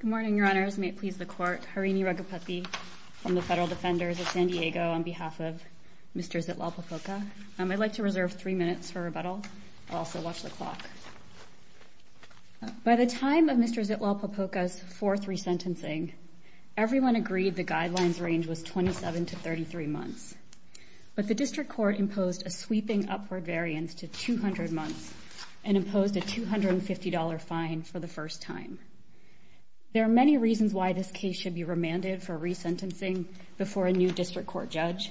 Good morning, Your Honors. May it please the Court, Harini Raghupathy from the Federal Defenders of San Diego on behalf of Mr. Zitlalpopoca. I'd like to reserve three minutes for rebuttal. Also, watch the clock. By the time of Mr. Zitlalpopoca's fourth resentencing, everyone agreed the guidelines range was 27 to 33 months. But the District Court imposed a sweeping upward variance to 200 months and imposed a $250 fine for the first time. There are many reasons why this case should be remanded for resentencing before a new District Court judge,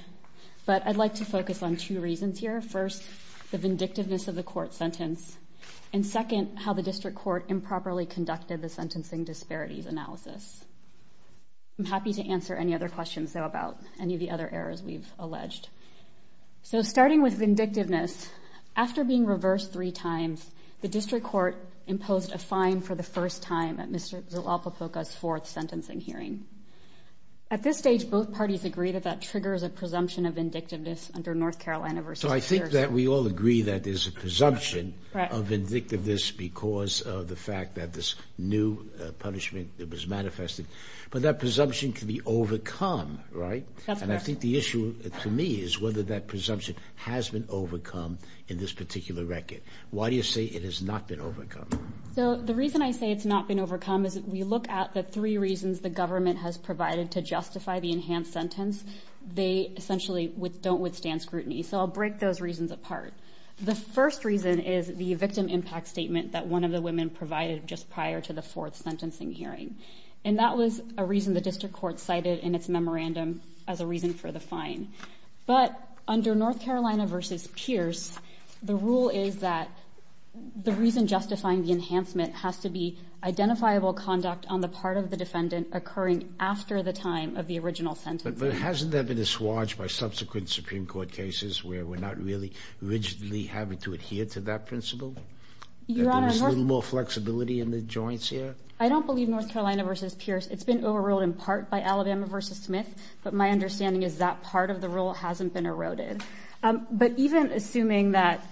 but I'd like to focus on two reasons here. First, the vindictiveness of the Court sentence, and second, how the District Court improperly conducted the sentencing disparities analysis. I'm happy to answer any other questions, though, about any of the other errors we've alleged. So starting with vindictiveness, after being reversed three times, the District Court imposed a fine for the first time at Mr. Zitlalpopoca's fourth sentencing hearing. At this stage, both parties agree that that triggers a presumption of vindictiveness under North Carolina v. New Jersey. So I think that we all agree that there's a presumption of vindictiveness because of the fact that this new punishment was manifested. But that presumption can be overcome, right? That's correct. But the issue to me is whether that presumption has been overcome in this particular record. Why do you say it has not been overcome? So the reason I say it's not been overcome is that we look at the three reasons the government has provided to justify the enhanced sentence. They essentially don't withstand scrutiny. So I'll break those reasons apart. The first reason is the victim impact statement that one of the women provided just prior to the fourth sentencing hearing. And that was a reason that the District Court cited in its memorandum as a reason for the fine. But under North Carolina v. Pierce, the rule is that the reason justifying the enhancement has to be identifiable conduct on the part of the defendant occurring after the time of the original sentencing. But hasn't there been a swatch by subsequent Supreme Court cases where we're not really rigidly having to adhere to that principle, that there's a little more flexibility in the joints here? I don't believe North Carolina v. Pierce. It's been overruled in part by Alabama v. Smith, but my understanding is that part of the rule hasn't been eroded. But even assuming that,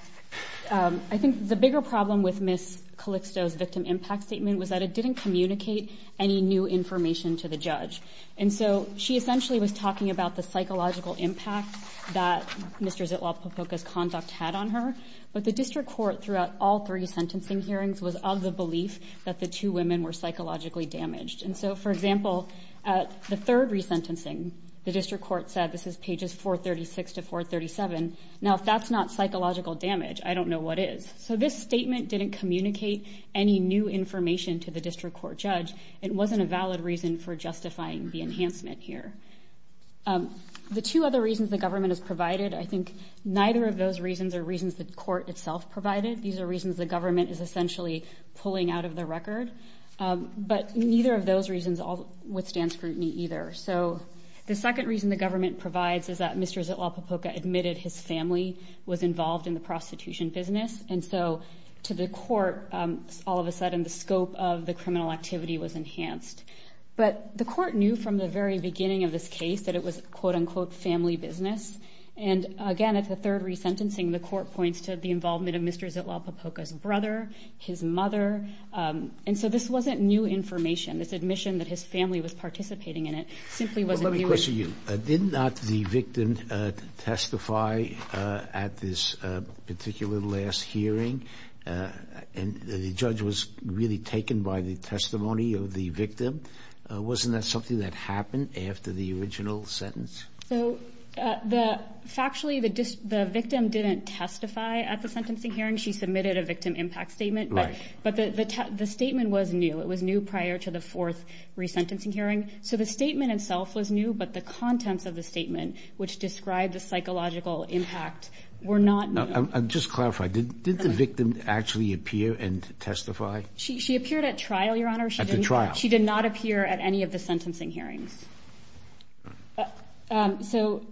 I think the bigger problem with Ms. Calixto's victim impact statement was that it didn't communicate any new information to the judge. And so she essentially was talking about the psychological impact that Mr. Zitwale-Popoca's conduct had on her. But the District Court throughout all three sentencing hearings was of the belief that the two women were psychologically damaged. And so, for example, at the third resentencing, the District Court said, this is pages 436 to 437, now if that's not psychological damage, I don't know what is. So this statement didn't communicate any new information to the District Court judge. It wasn't a valid reason for justifying the enhancement here. The two other reasons the government has provided, I think neither of those reasons are reasons the court itself provided. These are reasons the government is essentially pulling out of the record. But neither of those reasons withstand scrutiny either. So the second reason the government provides is that Mr. Zitwale-Popoca admitted his family was involved in the prostitution business. And so to the court, all of a sudden the scope of the criminal activity was enhanced. But the court knew from the very beginning of this case that it was, quote unquote, family business. And again, at the third resentencing, the court points to the involvement of Mr. Zitwale-Popoca's brother, his mother. And so this wasn't new information. This admission that his family was participating in it simply wasn't new. Let me question you. Did not the victim testify at this particular last hearing? And the judge was really taken by the testimony of the victim. Wasn't that something that happened after the original sentence? So factually, the victim didn't testify at the sentencing hearing. She submitted a victim impact statement. But the statement was new. It was new prior to the fourth resentencing hearing. So the statement itself was new, but the contents of the statement, which described the psychological impact, were not new. Just to clarify, did the victim actually appear and testify? She appeared at trial, Your Honor. At the trial. She did not appear at any of the sentencing hearings. So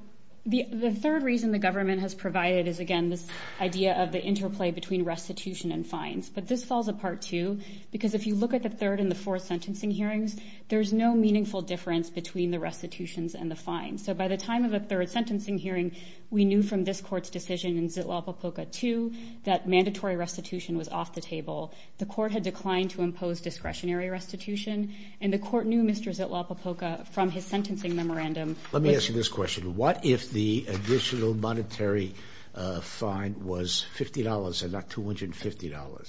the third reason the government has provided is, again, this idea of the interplay between restitution and fines. But this falls apart, too, because if you look at the third and the fourth sentencing hearings, there's no meaningful difference between the restitutions and the fines. So by the time of the third sentencing hearing, we knew from this court's decision in Zitwale-Popoca 2 that mandatory restitution was off the table. The court had from his sentencing memorandum. Let me ask you this question. What if the additional monetary fine was $50 and not $250?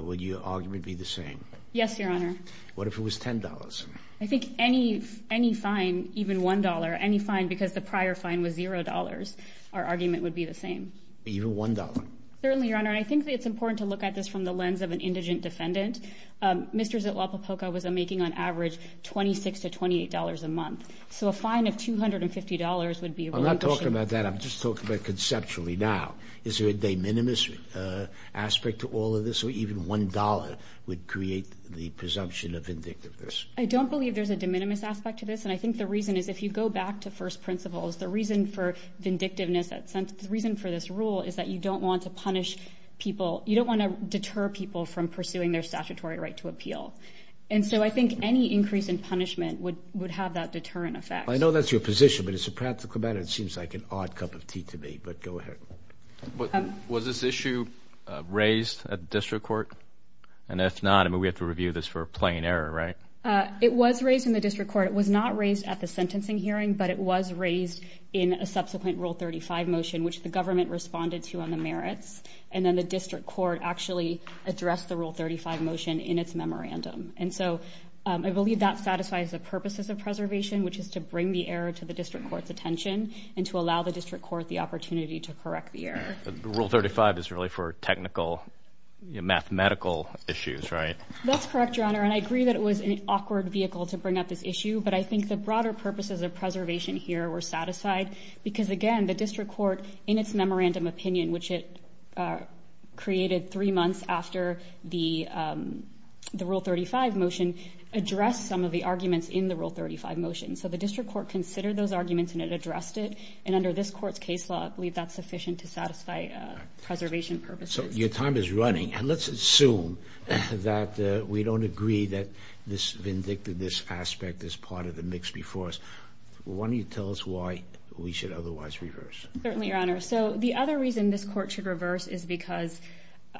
Would your argument be the same? Yes, Your Honor. What if it was $10? I think any fine, even $1, any fine because the prior fine was $0, our argument would be the same. Even $1? Certainly, Your Honor. I think it's important to look at this from the lens of an indigent So a fine of $250 would be a relatively cheap fine. I'm not talking about that. I'm just talking about conceptually now. Is there a de minimis aspect to all of this? Or even $1 would create the presumption of vindictiveness? I don't believe there's a de minimis aspect to this. And I think the reason is if you go back to first principles, the reason for vindictiveness, the reason for this rule is that you don't want to punish people. You don't want to deter people from pursuing their I know that's your position, but it's a practical matter. It seems like an odd cup of tea to me, but go ahead. Was this issue raised at the district court? And if not, I mean, we have to review this for a plain error, right? It was raised in the district court. It was not raised at the sentencing hearing, but it was raised in a subsequent Rule 35 motion, which the government responded to on the merits. And then the district court actually addressed the Rule 35 motion in its memorandum. And so I believe that satisfies the purposes of preservation, which is to bring the error to the district court's attention and to allow the district court the opportunity to correct the error. The Rule 35 is really for technical, mathematical issues, right? That's correct, Your Honor. And I agree that it was an awkward vehicle to bring up this issue, but I think the broader purposes of preservation here were satisfied because again, the district court in its memorandum opinion, which it created three months after the Rule 35 motion, addressed some of the arguments in the Rule 35 motion. So the district court considered those arguments and it addressed it. And under this court's case law, I believe that's sufficient to satisfy preservation purposes. So your time is running. And let's assume that we don't agree that this vindictive, this aspect, this part of the mix before us. Why don't you tell us why we should otherwise reverse? Certainly, Your Honor. So the other reason this court should reverse is because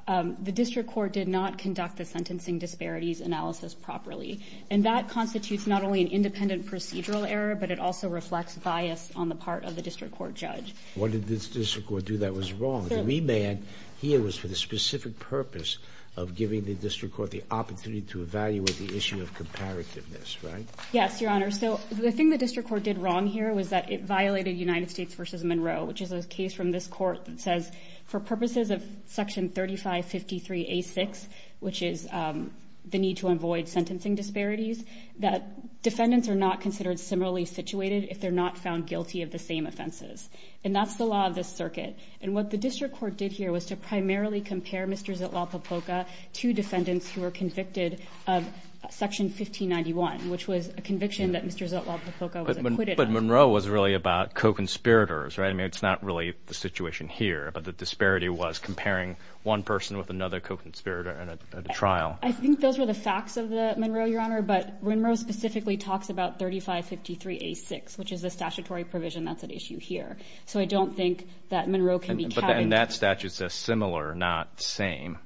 the district court did not conduct the sentencing disparities analysis properly. And that constitutes not only an independent procedural error, but it also reflects bias on the part of the district court judge. What did the district court do that was wrong? The remand here was for the specific purpose of giving the district court the opportunity to evaluate the issue of comparativeness, right? Yes, Your Honor. So the thing the district court did wrong here was that it violated United States v. Monroe, which is a case from this court that says, for purposes of Section 3553A6, which is the need to avoid sentencing disparities, that defendants are not considered similarly situated if they're not found guilty of the same offenses. And that's the law of this circuit. And what the district court did here was to primarily compare Mr. Zutlaff-Papoka to defendants who were convicted of Section 1591, which was a conviction that Mr. Zutlaff-Papoka was acquitted of. But Monroe was really about co-conspirators, right? I mean, it's not really the situation here, but the disparity was comparing one person with another co-conspirator at a trial. I think those were the facts of the Monroe, Your Honor. But Monroe specifically talks about 3553A6, which is the statutory provision that's at issue here. So I don't think that Monroe can be categorized. But then that statute says similar, not same.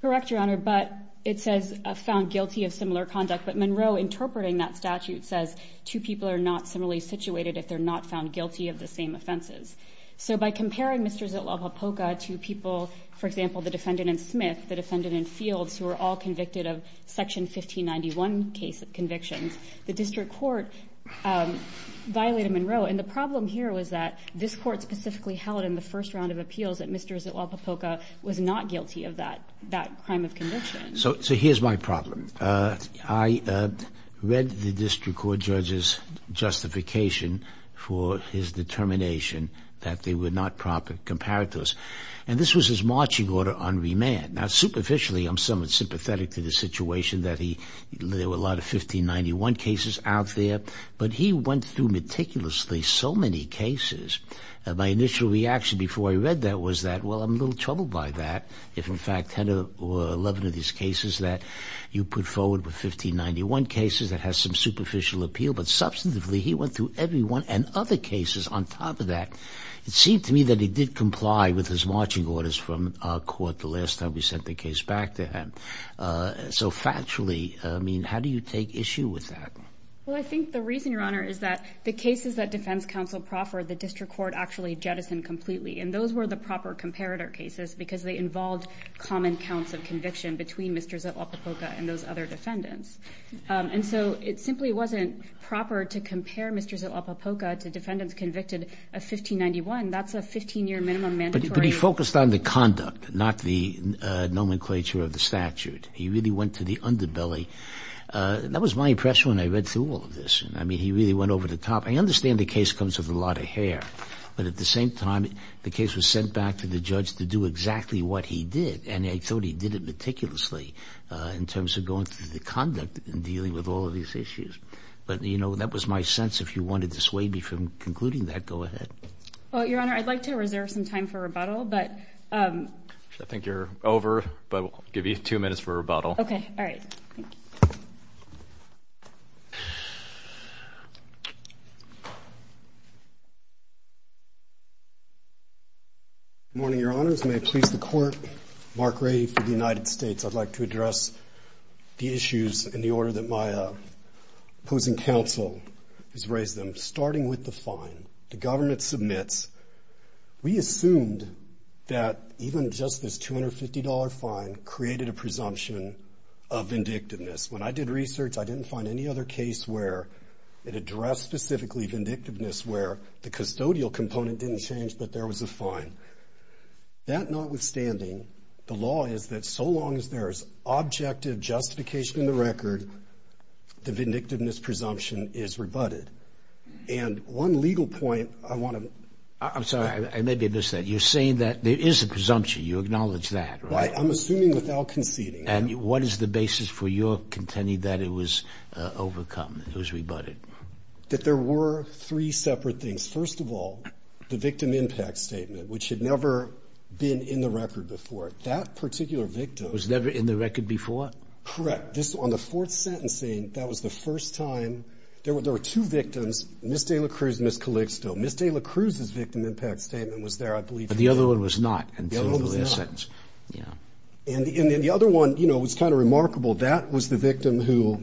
Correct, Your Honor. But it says found guilty of similar conduct. But Monroe interpreting that statute says two people are not similarly situated if they're not found guilty of the same offenses. So by comparing Mr. Zutlaff-Papoka to people, for example, the defendant in Smith, the defendant in Fields, who were all convicted of Section 1591 convictions, the district court violated Monroe. And the problem here was that this court specifically held in the first round of appeals that Mr. Zutlaff-Papoka was not guilty of that crime of conviction. So here's my problem. I read the district court judge's justification for his determination that they were not proper comparators. And this was his marching order on remand. Now superficially, I'm somewhat sympathetic to the situation that he, there were a lot of 1591 cases out there, but he went through meticulously so many cases. My initial reaction before I read that was that, well, I'm a little troubled by that if in fact 10 or 11 of these cases that you put forward were 1591 cases that has some superficial appeal. But substantively, he went through every one and other cases on top of that. It seemed to me that he did comply with his marching orders from our court the last time we sent the case back to him. So factually, I mean, how do you take issue with that? Well, I think the reason, Your Honor, is that the cases that defense counsel proffered, the district court actually jettisoned completely. And those were the proper comparator cases because they involved common counts of conviction between Mr. Zilopopoca and those other defendants. And so it simply wasn't proper to compare Mr. Zilopopoca to defendants convicted of 1591. That's a 15-year minimum mandatory. But he focused on the conduct, not the nomenclature of the statute. He really went to the underbelly. That was my impression when I read through all of this. I mean, he really went over the top. I understand the case comes with a lot of hair, but at the same time, the case was sent back to the judge to do exactly what he did. And I thought he did it meticulously in terms of going through the conduct and dealing with all of these issues. But, you know, that was my sense. If you want to dissuade me from concluding that, go ahead. Well, Your Honor, I'd like to reserve some time for rebuttal, but... I think you're over, but we'll give you two minutes for rebuttal. Okay. All right. Thank you. Good morning, Your Honors. May it please the Court, Mark Ray for the United States. I'd like to address the issues in the order that my opposing counsel has raised them, starting with the fine. The government submits. We assumed that even just this $250 fine created a presumption of vindictiveness. When I did research, I didn't find any other case where it addressed specifically vindictiveness, where the custodial component didn't change, but there was a fine. That notwithstanding, the law is that so long as there's objective justification in the record, the vindictiveness presumption is rebutted. And one legal point I want to... I'm sorry. I may have missed that. You're saying that there is a presumption. You acknowledge that, right? Right. I'm assuming without conceding. And what is the basis for your contending that it was overcome, it was rebutted? That there were three separate things. First of all, the victim impact statement, which had never been in the record before. That particular victim... Was never in the record before? Correct. On the fourth sentencing, that was the first time. There were two victims, Ms. Dayla Cruz and Ms. Calixto. Ms. Dayla Cruz's victim impact statement was there, I believe. But the other one was not until the last sentence. The other one was not. And the other one was kind of remarkable. That was the victim who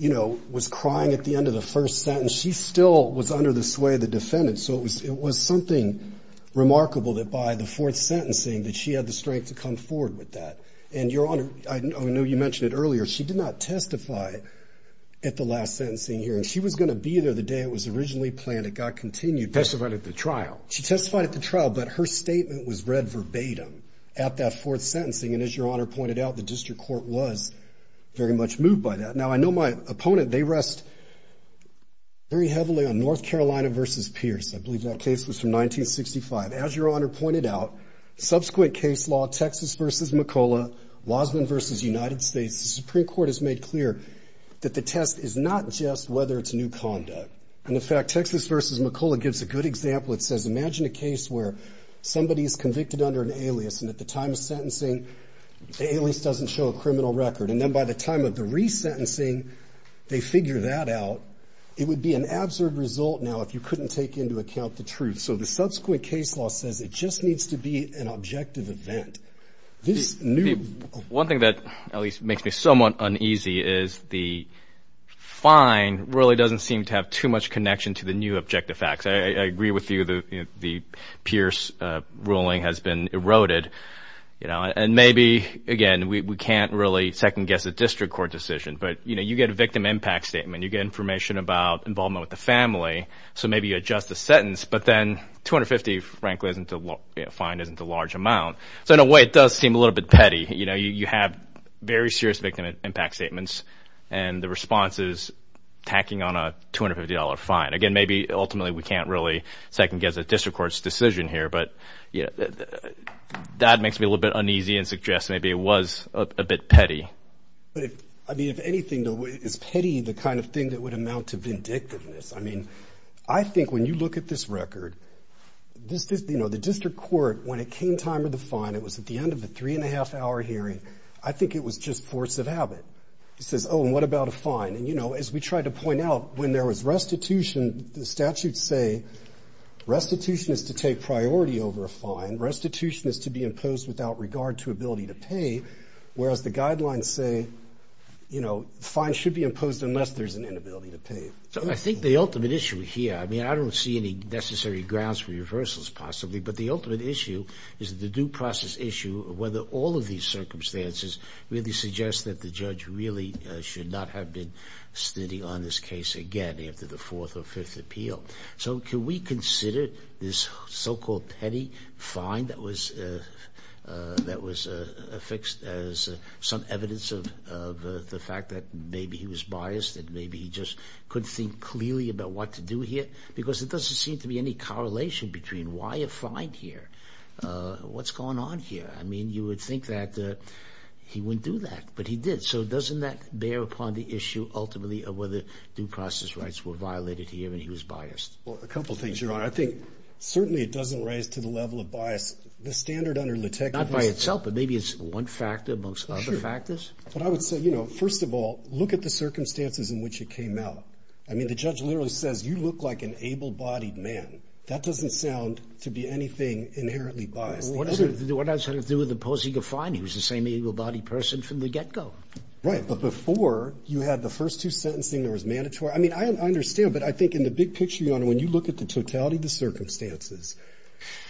was crying at the end of the first sentence. She still was under the sway of the defendant. So it was something remarkable that by the fourth sentencing, that she had the strength to come forward with that. And Your Honor, I know you mentioned it earlier, she did not testify at the last sentencing hearing. She was going to be there the day it was originally planned. It got continued. Testified at the trial. She testified at the trial, but her statement was read verbatim at that fourth sentencing. And as Your Honor pointed out, the district court was very much moved by that. Now, I know my opponent, they rest very heavily on North Carolina versus Pierce. I believe that case was from 1965. As Your Honor pointed out, subsequent case law, Texas versus McCullough, Wasman versus United States, the Supreme Court has made clear that the test is not just whether it's new conduct. And in fact, Texas versus McCullough gives a good example. It says, imagine a case where somebody is convicted under an alias, and at the time of sentencing, the alias doesn't show a criminal record. And then by the time of the resentencing, they figure that out. It would be an absurd result now if you couldn't take into account the truth. So the subsequent case law says it just needs to be an objective event. One thing that at least makes me somewhat uneasy is the fine really doesn't seem to have too much connection to the new objective facts. I agree with you that the Pierce ruling has been eroded. And maybe, again, we can't really second-guess a district court decision. But you get a victim impact statement. You get information about involvement with the family. So maybe you adjust the sentence. But then 250, frankly, isn't a large amount. So in a way, it does seem a little bit petty. You have very serious victim impact statements. And the response is tacking on a $250 fine. Again, maybe, ultimately, we can't really second-guess a district court's decision here. But that makes me a little bit uneasy and suggests maybe it was a bit petty. But, I mean, if anything, is petty the kind of thing that would amount to vindictiveness? I mean, I think when you look at this record, you know, the district court, when it came time for the fine, it was at the end of a three-and-a-half-hour hearing. I think it was just force of habit. It says, oh, and what about a fine? And, you know, as we tried to point out, when there was restitution, the statutes say restitution is to take priority over a fine. Restitution is to be imposed without regard to ability to pay, whereas the guidelines say, you know, fines should be imposed unless there's an inability to pay. So I think the ultimate issue here, I mean, I don't see any necessary grounds for reversals possibly, but the ultimate issue is the due process issue of whether all of these circumstances really suggest that the judge really should not have been sitting on this case again after the fourth or fifth appeal. So can we consider this so-called petty fine that was affixed as some evidence of the fact that maybe he was biased, that maybe he just couldn't think clearly about what to do here? Because there doesn't seem to be any correlation between why a fine here, what's going on here. I mean, you would think that he wouldn't do that, but he did. So doesn't that bear upon the issue ultimately of whether due process rights were violated here and he was biased? Well, a couple of things, Your Honor. I think certainly it doesn't raise to the level of bias. The standard under LaTeX- Not by itself, but maybe it's one factor amongst other factors. Sure. But I would say, you know, first of all, look at the circumstances in which it came out. I mean, the judge literally says, you look like an able-bodied man. That doesn't sound to be anything inherently biased. Well, what does it have to do with opposing a fine? He was the same able-bodied person from the get-go. Right. But before, you had the first two sentencing that was mandatory. I mean, I understand, but I think in the big picture, Your Honor, when you look at the totality of the circumstances,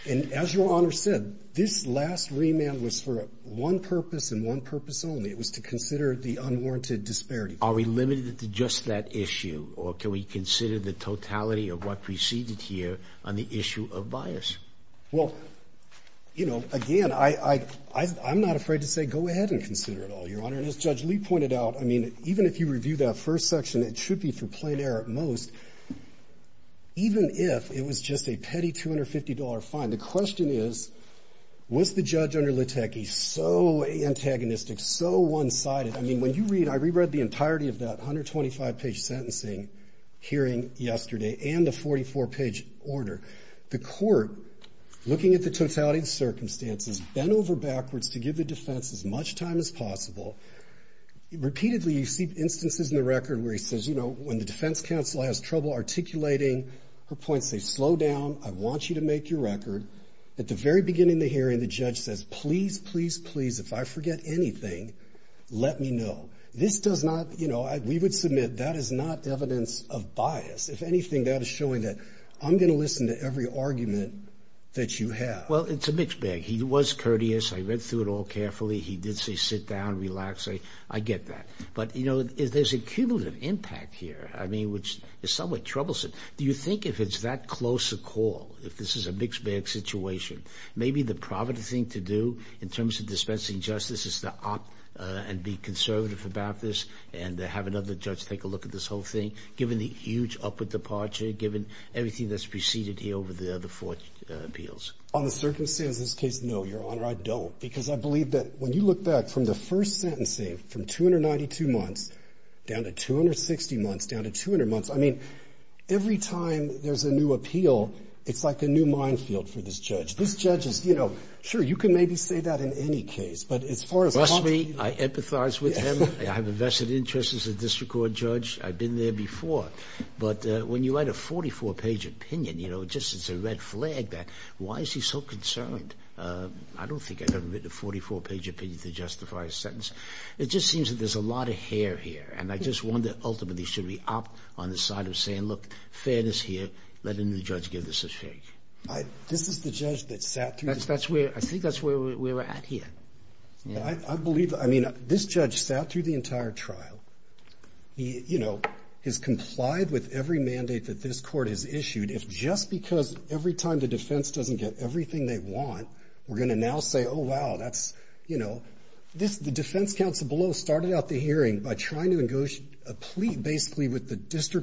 and as Your Honor said, this last remand was for one purpose and one purpose only. It was to consider the unwarranted disparity. Are we limited to just that issue, or can we consider the totality of what preceded here on the issue of bias? Well, you know, again, I'm not afraid to say go ahead and consider it all, Your Honor. And as Judge Lee pointed out, I mean, even if you review that first section, it should be for plain error at most, even if it was just a petty $250 fine. The question is, was the judge under LaTeX so antagonistic, so one-sided? I mean, when you read, I reread the entirety of that 125-page sentencing hearing yesterday and the 44-page order, the court, looking at the totality of the circumstances, bent over backwards to give the defense as much time as possible. Repeatedly, you see instances in the record where he says, you know, when the defense counsel has trouble articulating her points, they slow down, I want you to make your record. At the very beginning of the hearing, the judge says, please, please, please, if I forget anything, let me know. This does not, you know, we would submit that is not evidence of bias. If anything, that is showing that I'm going to listen to every argument that you have. Well, it's a mixed bag. He was courteous. I read through it all carefully. He did say sit down, relax. I get that. But, you know, there's a cumulative impact here, I mean, which is somewhat troublesome. Do you think if it's that close a call, if this is a mixed bag situation, maybe the proper thing to do in terms of dispensing justice is to opt and be conservative about this and have another judge take a look at this whole thing, given the huge upward departure, given everything that's preceded here over the other four appeals? On the circumstances of this case, no, Your Honor, I don't. Because I believe that when you look back from the first sentencing, from 292 months down to 260 months down to 200 months, I mean, every time there's a new appeal, it's like a new minefield for this judge. This judge is, you know, sure, you can maybe say that in any case, but as far as... Trust me, I empathize with him. I have a vested interest as a district court judge. I've been there before. But when you write a 44-page opinion, you know, just it's a red flag that why is he so concerned? I don't think I've ever written a 44-page opinion to justify a sentence. It just seems that there's a lot of hair here. And I just wonder ultimately should we opt on the side of saying, look, fairness here, let another judge give this a shake. This is the judge that sat through... That's where, I think that's where we're at here. I believe, I mean, this judge sat through the entire trial. He, you know, has complied with every mandate that this court has issued. If just because every time the defense doesn't get everything they want, we're going to now say, oh, wow, that's, you know, this, the district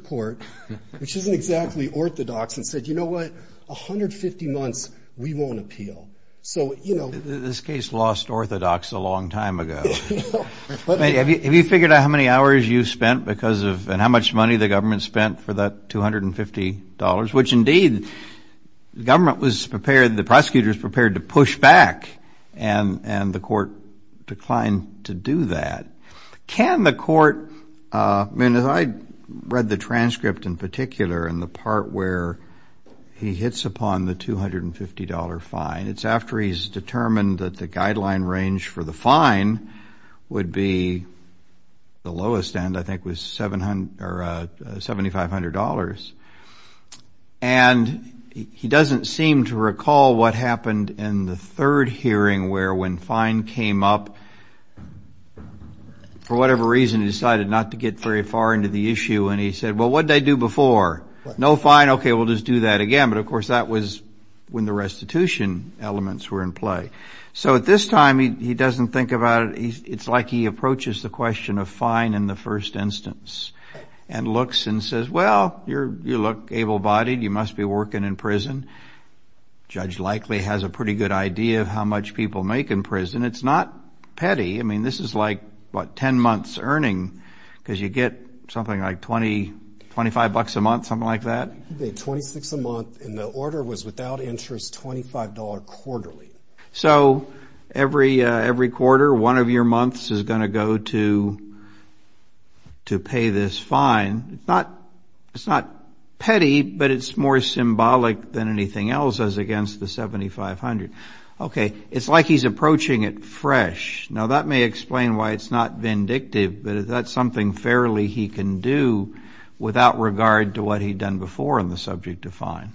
court, which isn't exactly orthodox, and said, you know what, 150 months, we won't appeal. So, you know... This case lost orthodox a long time ago. Have you figured out how many hours you spent because of, and how much money the government spent for that $250, which indeed the government was prepared, the prosecutors prepared to push back, and the court declined to do that. Can the court, I mean, as I read the transcript in particular, in the part where he hits upon the $250 fine, it's after he's determined that the guideline range for the fine would be the lowest end, I think was $7,500, and he doesn't seem to recall what happened in the third hearing where when fine came up, for whatever reason, he decided not to get very far into the issue, and he said, well, what did I do before? No fine, okay, we'll just do that again, but of course that was when the restitution elements were in play. So at this time, he doesn't think about it, it's like he approaches the question of fine in the first instance, and looks and says, well, you look able-bodied, you must be working in prison, judge likely has a pretty good idea of how much people make in prison, it's not petty, I mean, this is like, what, 10 months earning, because you get something like 20, 25 bucks a month, something like that? He paid 26 a month, and the order was without interest, $25 quarterly. So every quarter, one of your months is going to go to pay this fine, it's not petty, but it's more symbolic than anything else as against the 7500. Okay, it's like he's approaching it fresh, now that may explain why it's not vindictive, but that's something fairly he can do without regard to what he'd done before on the subject of fine.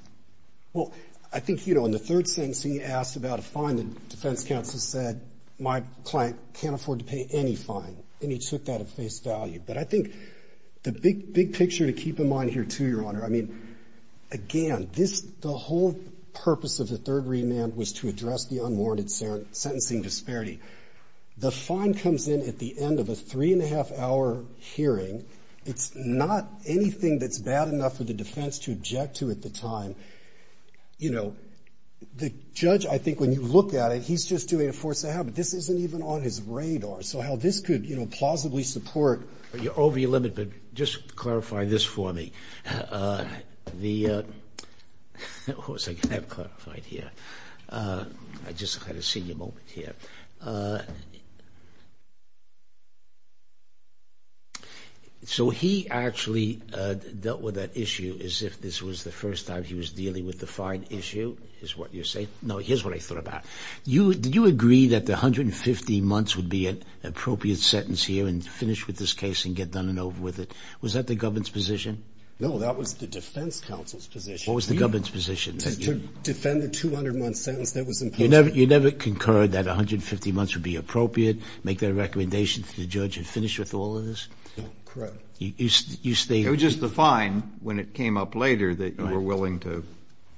Well, I think, you know, in the third sentence, he asked about a fine, the defense counsel said, my client can't afford to pay any fine, and he took that at face value, but I think the big picture to keep in mind here too, Your Honor, I mean, again, the whole purpose of the third remand was to address the unwarranted sentencing disparity. The fine comes in at the end of a three and a half hour hearing, it's not anything that's bad enough for the defense to object to at the time, you know, the judge, I think when you look at it, he's just doing it force of habit, this isn't even on his radar, so how this could, you know, plausibly support, you're over your limit, but just clarify this for me, the, of course I can have clarified here, I just had a senior moment here, so he actually dealt with that issue as if this was the first time he was dealing with the fine issue, is what you're saying, no, here's what I thought about it, you, did you agree that the 150 months would be an appropriate sentence here and finish with this case and get done and over with it, was that the government's position? No, that was the defense counsel's position. What was the government's position? To defend the 200 month sentence, that was important. You never concurred that 150 months would be appropriate, make that a recommendation to the judge and finish with all of this? No, correct. You, you stated. It was just the fine when it came up later that you were willing to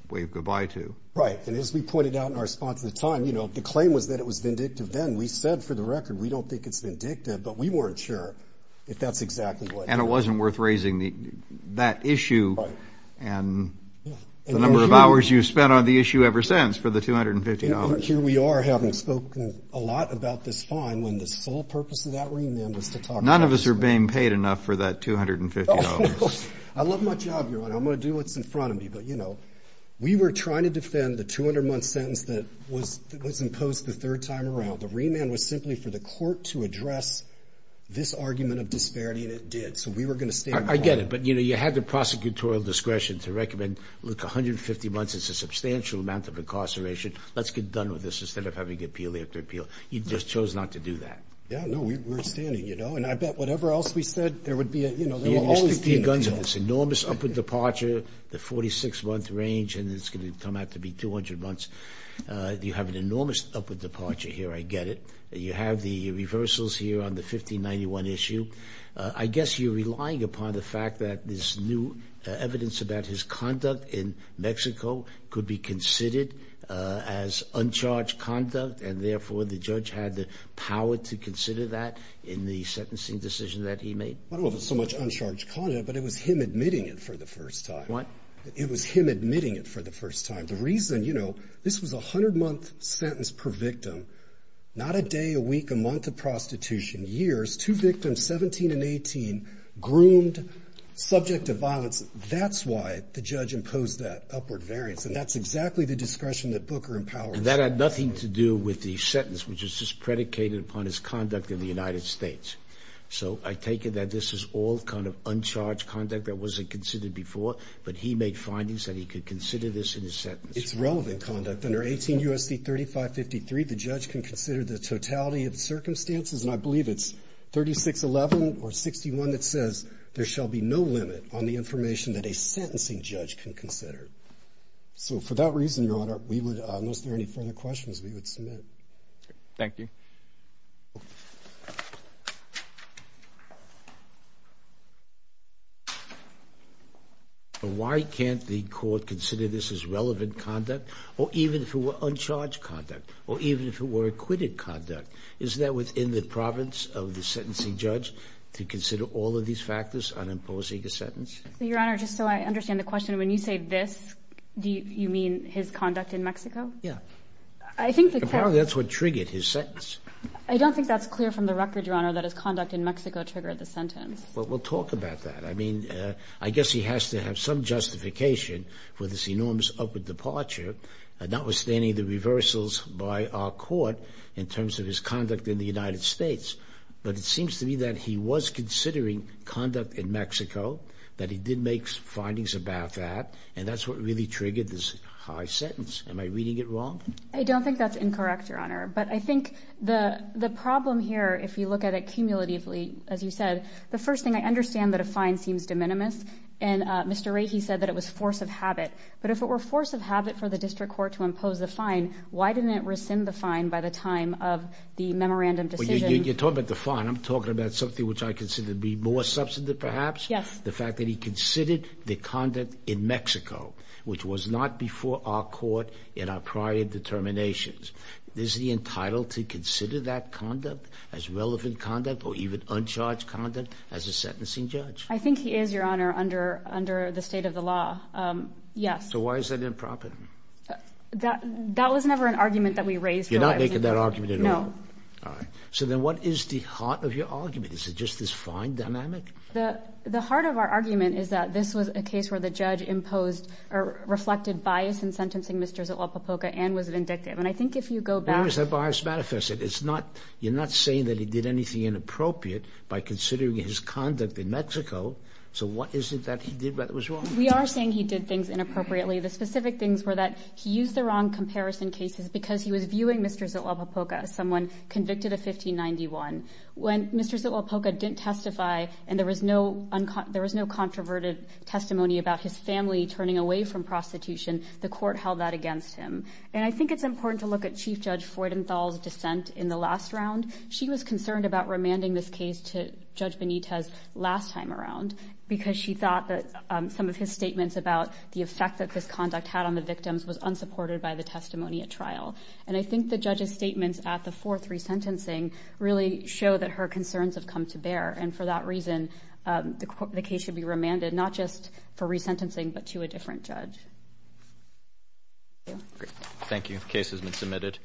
wave goodbye to. Right, and as we pointed out in our response at the time, you know, the claim was that it was vindictive then, we said for the record, we don't think it's vindictive, but we weren't sure if that's exactly what. And it wasn't worth raising the, that issue and the number of hours you've spent on the issue ever since for the 250 hours. Here we are having spoken a lot about this fine when the sole purpose of that remand was to talk about this fine. None of us are being paid enough for that 250 hours. I love my job, your honor, I'm going to do what's in front of me, but you know, we were trying to defend the 200 month sentence that was, that was imposed the third time around. The remand was simply for the court to address this argument of disparity and it did. So we were going to stay. I get it. But you know, you had the prosecutorial discretion to recommend, look, 150 months, it's a substantial amount of incarceration. Let's get done with this instead of having appeal after appeal. You just chose not to do that. Yeah, no, we were standing, you know, and I bet whatever else we said, there would be, you know, there will always be guns of this enormous upward departure, the 46 month range, and it's going to come out to be 200 months. You have an enormous upward departure here. I get it. You have the reversals here on the 1591 issue. I guess you're relying upon the fact that this new evidence about his conduct in Mexico could be considered as uncharged conduct and therefore the judge had the power to consider that in the sentencing decision that he made. I don't know if it's so much uncharged conduct, but it was him admitting it for the first time. What? It was him admitting it for the first time. The reason, you know, this was a 100 month sentence per victim, not a day, a week, a month of prostitution, years, two victims, 17 and 18, groomed, subject to violence. That's why the judge imposed that upward variance, and that's exactly the discretion that Booker empowered. And that had nothing to do with the sentence, which is just predicated upon his conduct in the United States. So I take it that this is all kind of uncharged conduct that wasn't considered before, but he made findings that he could consider this in his sentence. It's relevant conduct. Under 18 U.S.C. 3553, the judge can consider the totality of the circumstances, and I believe it's 3611 or 61 that says there shall be no limit on the information that a sentencing judge can consider. So for that reason, Your Honor, unless there are any further questions, we would submit. Thank you. Why can't the court consider this as relevant conduct, or even if it were uncharged conduct, or even if it were acquitted conduct? Is that within the province of the sentencing judge to consider all of these factors on imposing a sentence? Your Honor, just so I understand the question, when you say this, do you mean his conduct in Mexico? Yeah. I think the court... Apparently that's what triggered his sentence. I don't think that's clear from the record, Your Honor, that his conduct in Mexico triggered the sentence. Well, we'll talk about that. I mean, I guess he has to have some justification for this enormous upward departure, notwithstanding the reversals by our court in terms of his conduct in the United States. But it seems to me that he was considering conduct in Mexico, that he did make findings about that, and that's what really triggered this high sentence. Am I reading it wrong? I don't think that's incorrect, Your Honor. But I think the problem here, if you look at it cumulatively, as you said, the first thing, I understand that a fine seems de minimis, and Mr. Rahe said that it was force of habit. But if it were force of habit for the district court to impose the fine, why didn't it rescind the fine by the time of the memorandum decision? You're talking about the fine. I'm talking about something which I consider to be more substantive, perhaps? Yes. The fact that he considered the conduct in Mexico, which was not before our court in prior determinations, is he entitled to consider that conduct as relevant conduct, or even uncharged conduct, as a sentencing judge? I think he is, Your Honor, under the state of the law, yes. So why is that improper? That was never an argument that we raised. You're not making that argument at all? No. All right. So then what is the heart of your argument? Is it just this fine dynamic? The heart of our argument is that this was a case where the judge imposed, or reflected bias in sentencing Mr. Zitlapopoca and was vindictive. And I think if you go back... Where is that bias manifested? You're not saying that he did anything inappropriate by considering his conduct in Mexico. So what is it that he did that was wrong? We are saying he did things inappropriately. The specific things were that he used the wrong comparison cases because he was viewing Mr. Zitlapopoca as someone convicted of 1591. When Mr. Zitlapopoca didn't testify, and there was no controverted testimony about his family turning away from prostitution, the court held that against him. And I think it's important to look at Chief Judge Freudenthal's dissent in the last round. She was concerned about remanding this case to Judge Benitez last time around because she thought that some of his statements about the effect that this conduct had on the victims was unsupported by the testimony at trial. And I think the judge's statements at the fourth resentencing really show that her concerns have come to bear. And for that reason, the case should be remanded, not just for resentencing, but to a different judge. Thank you. Great. Thank you. The case has been submitted.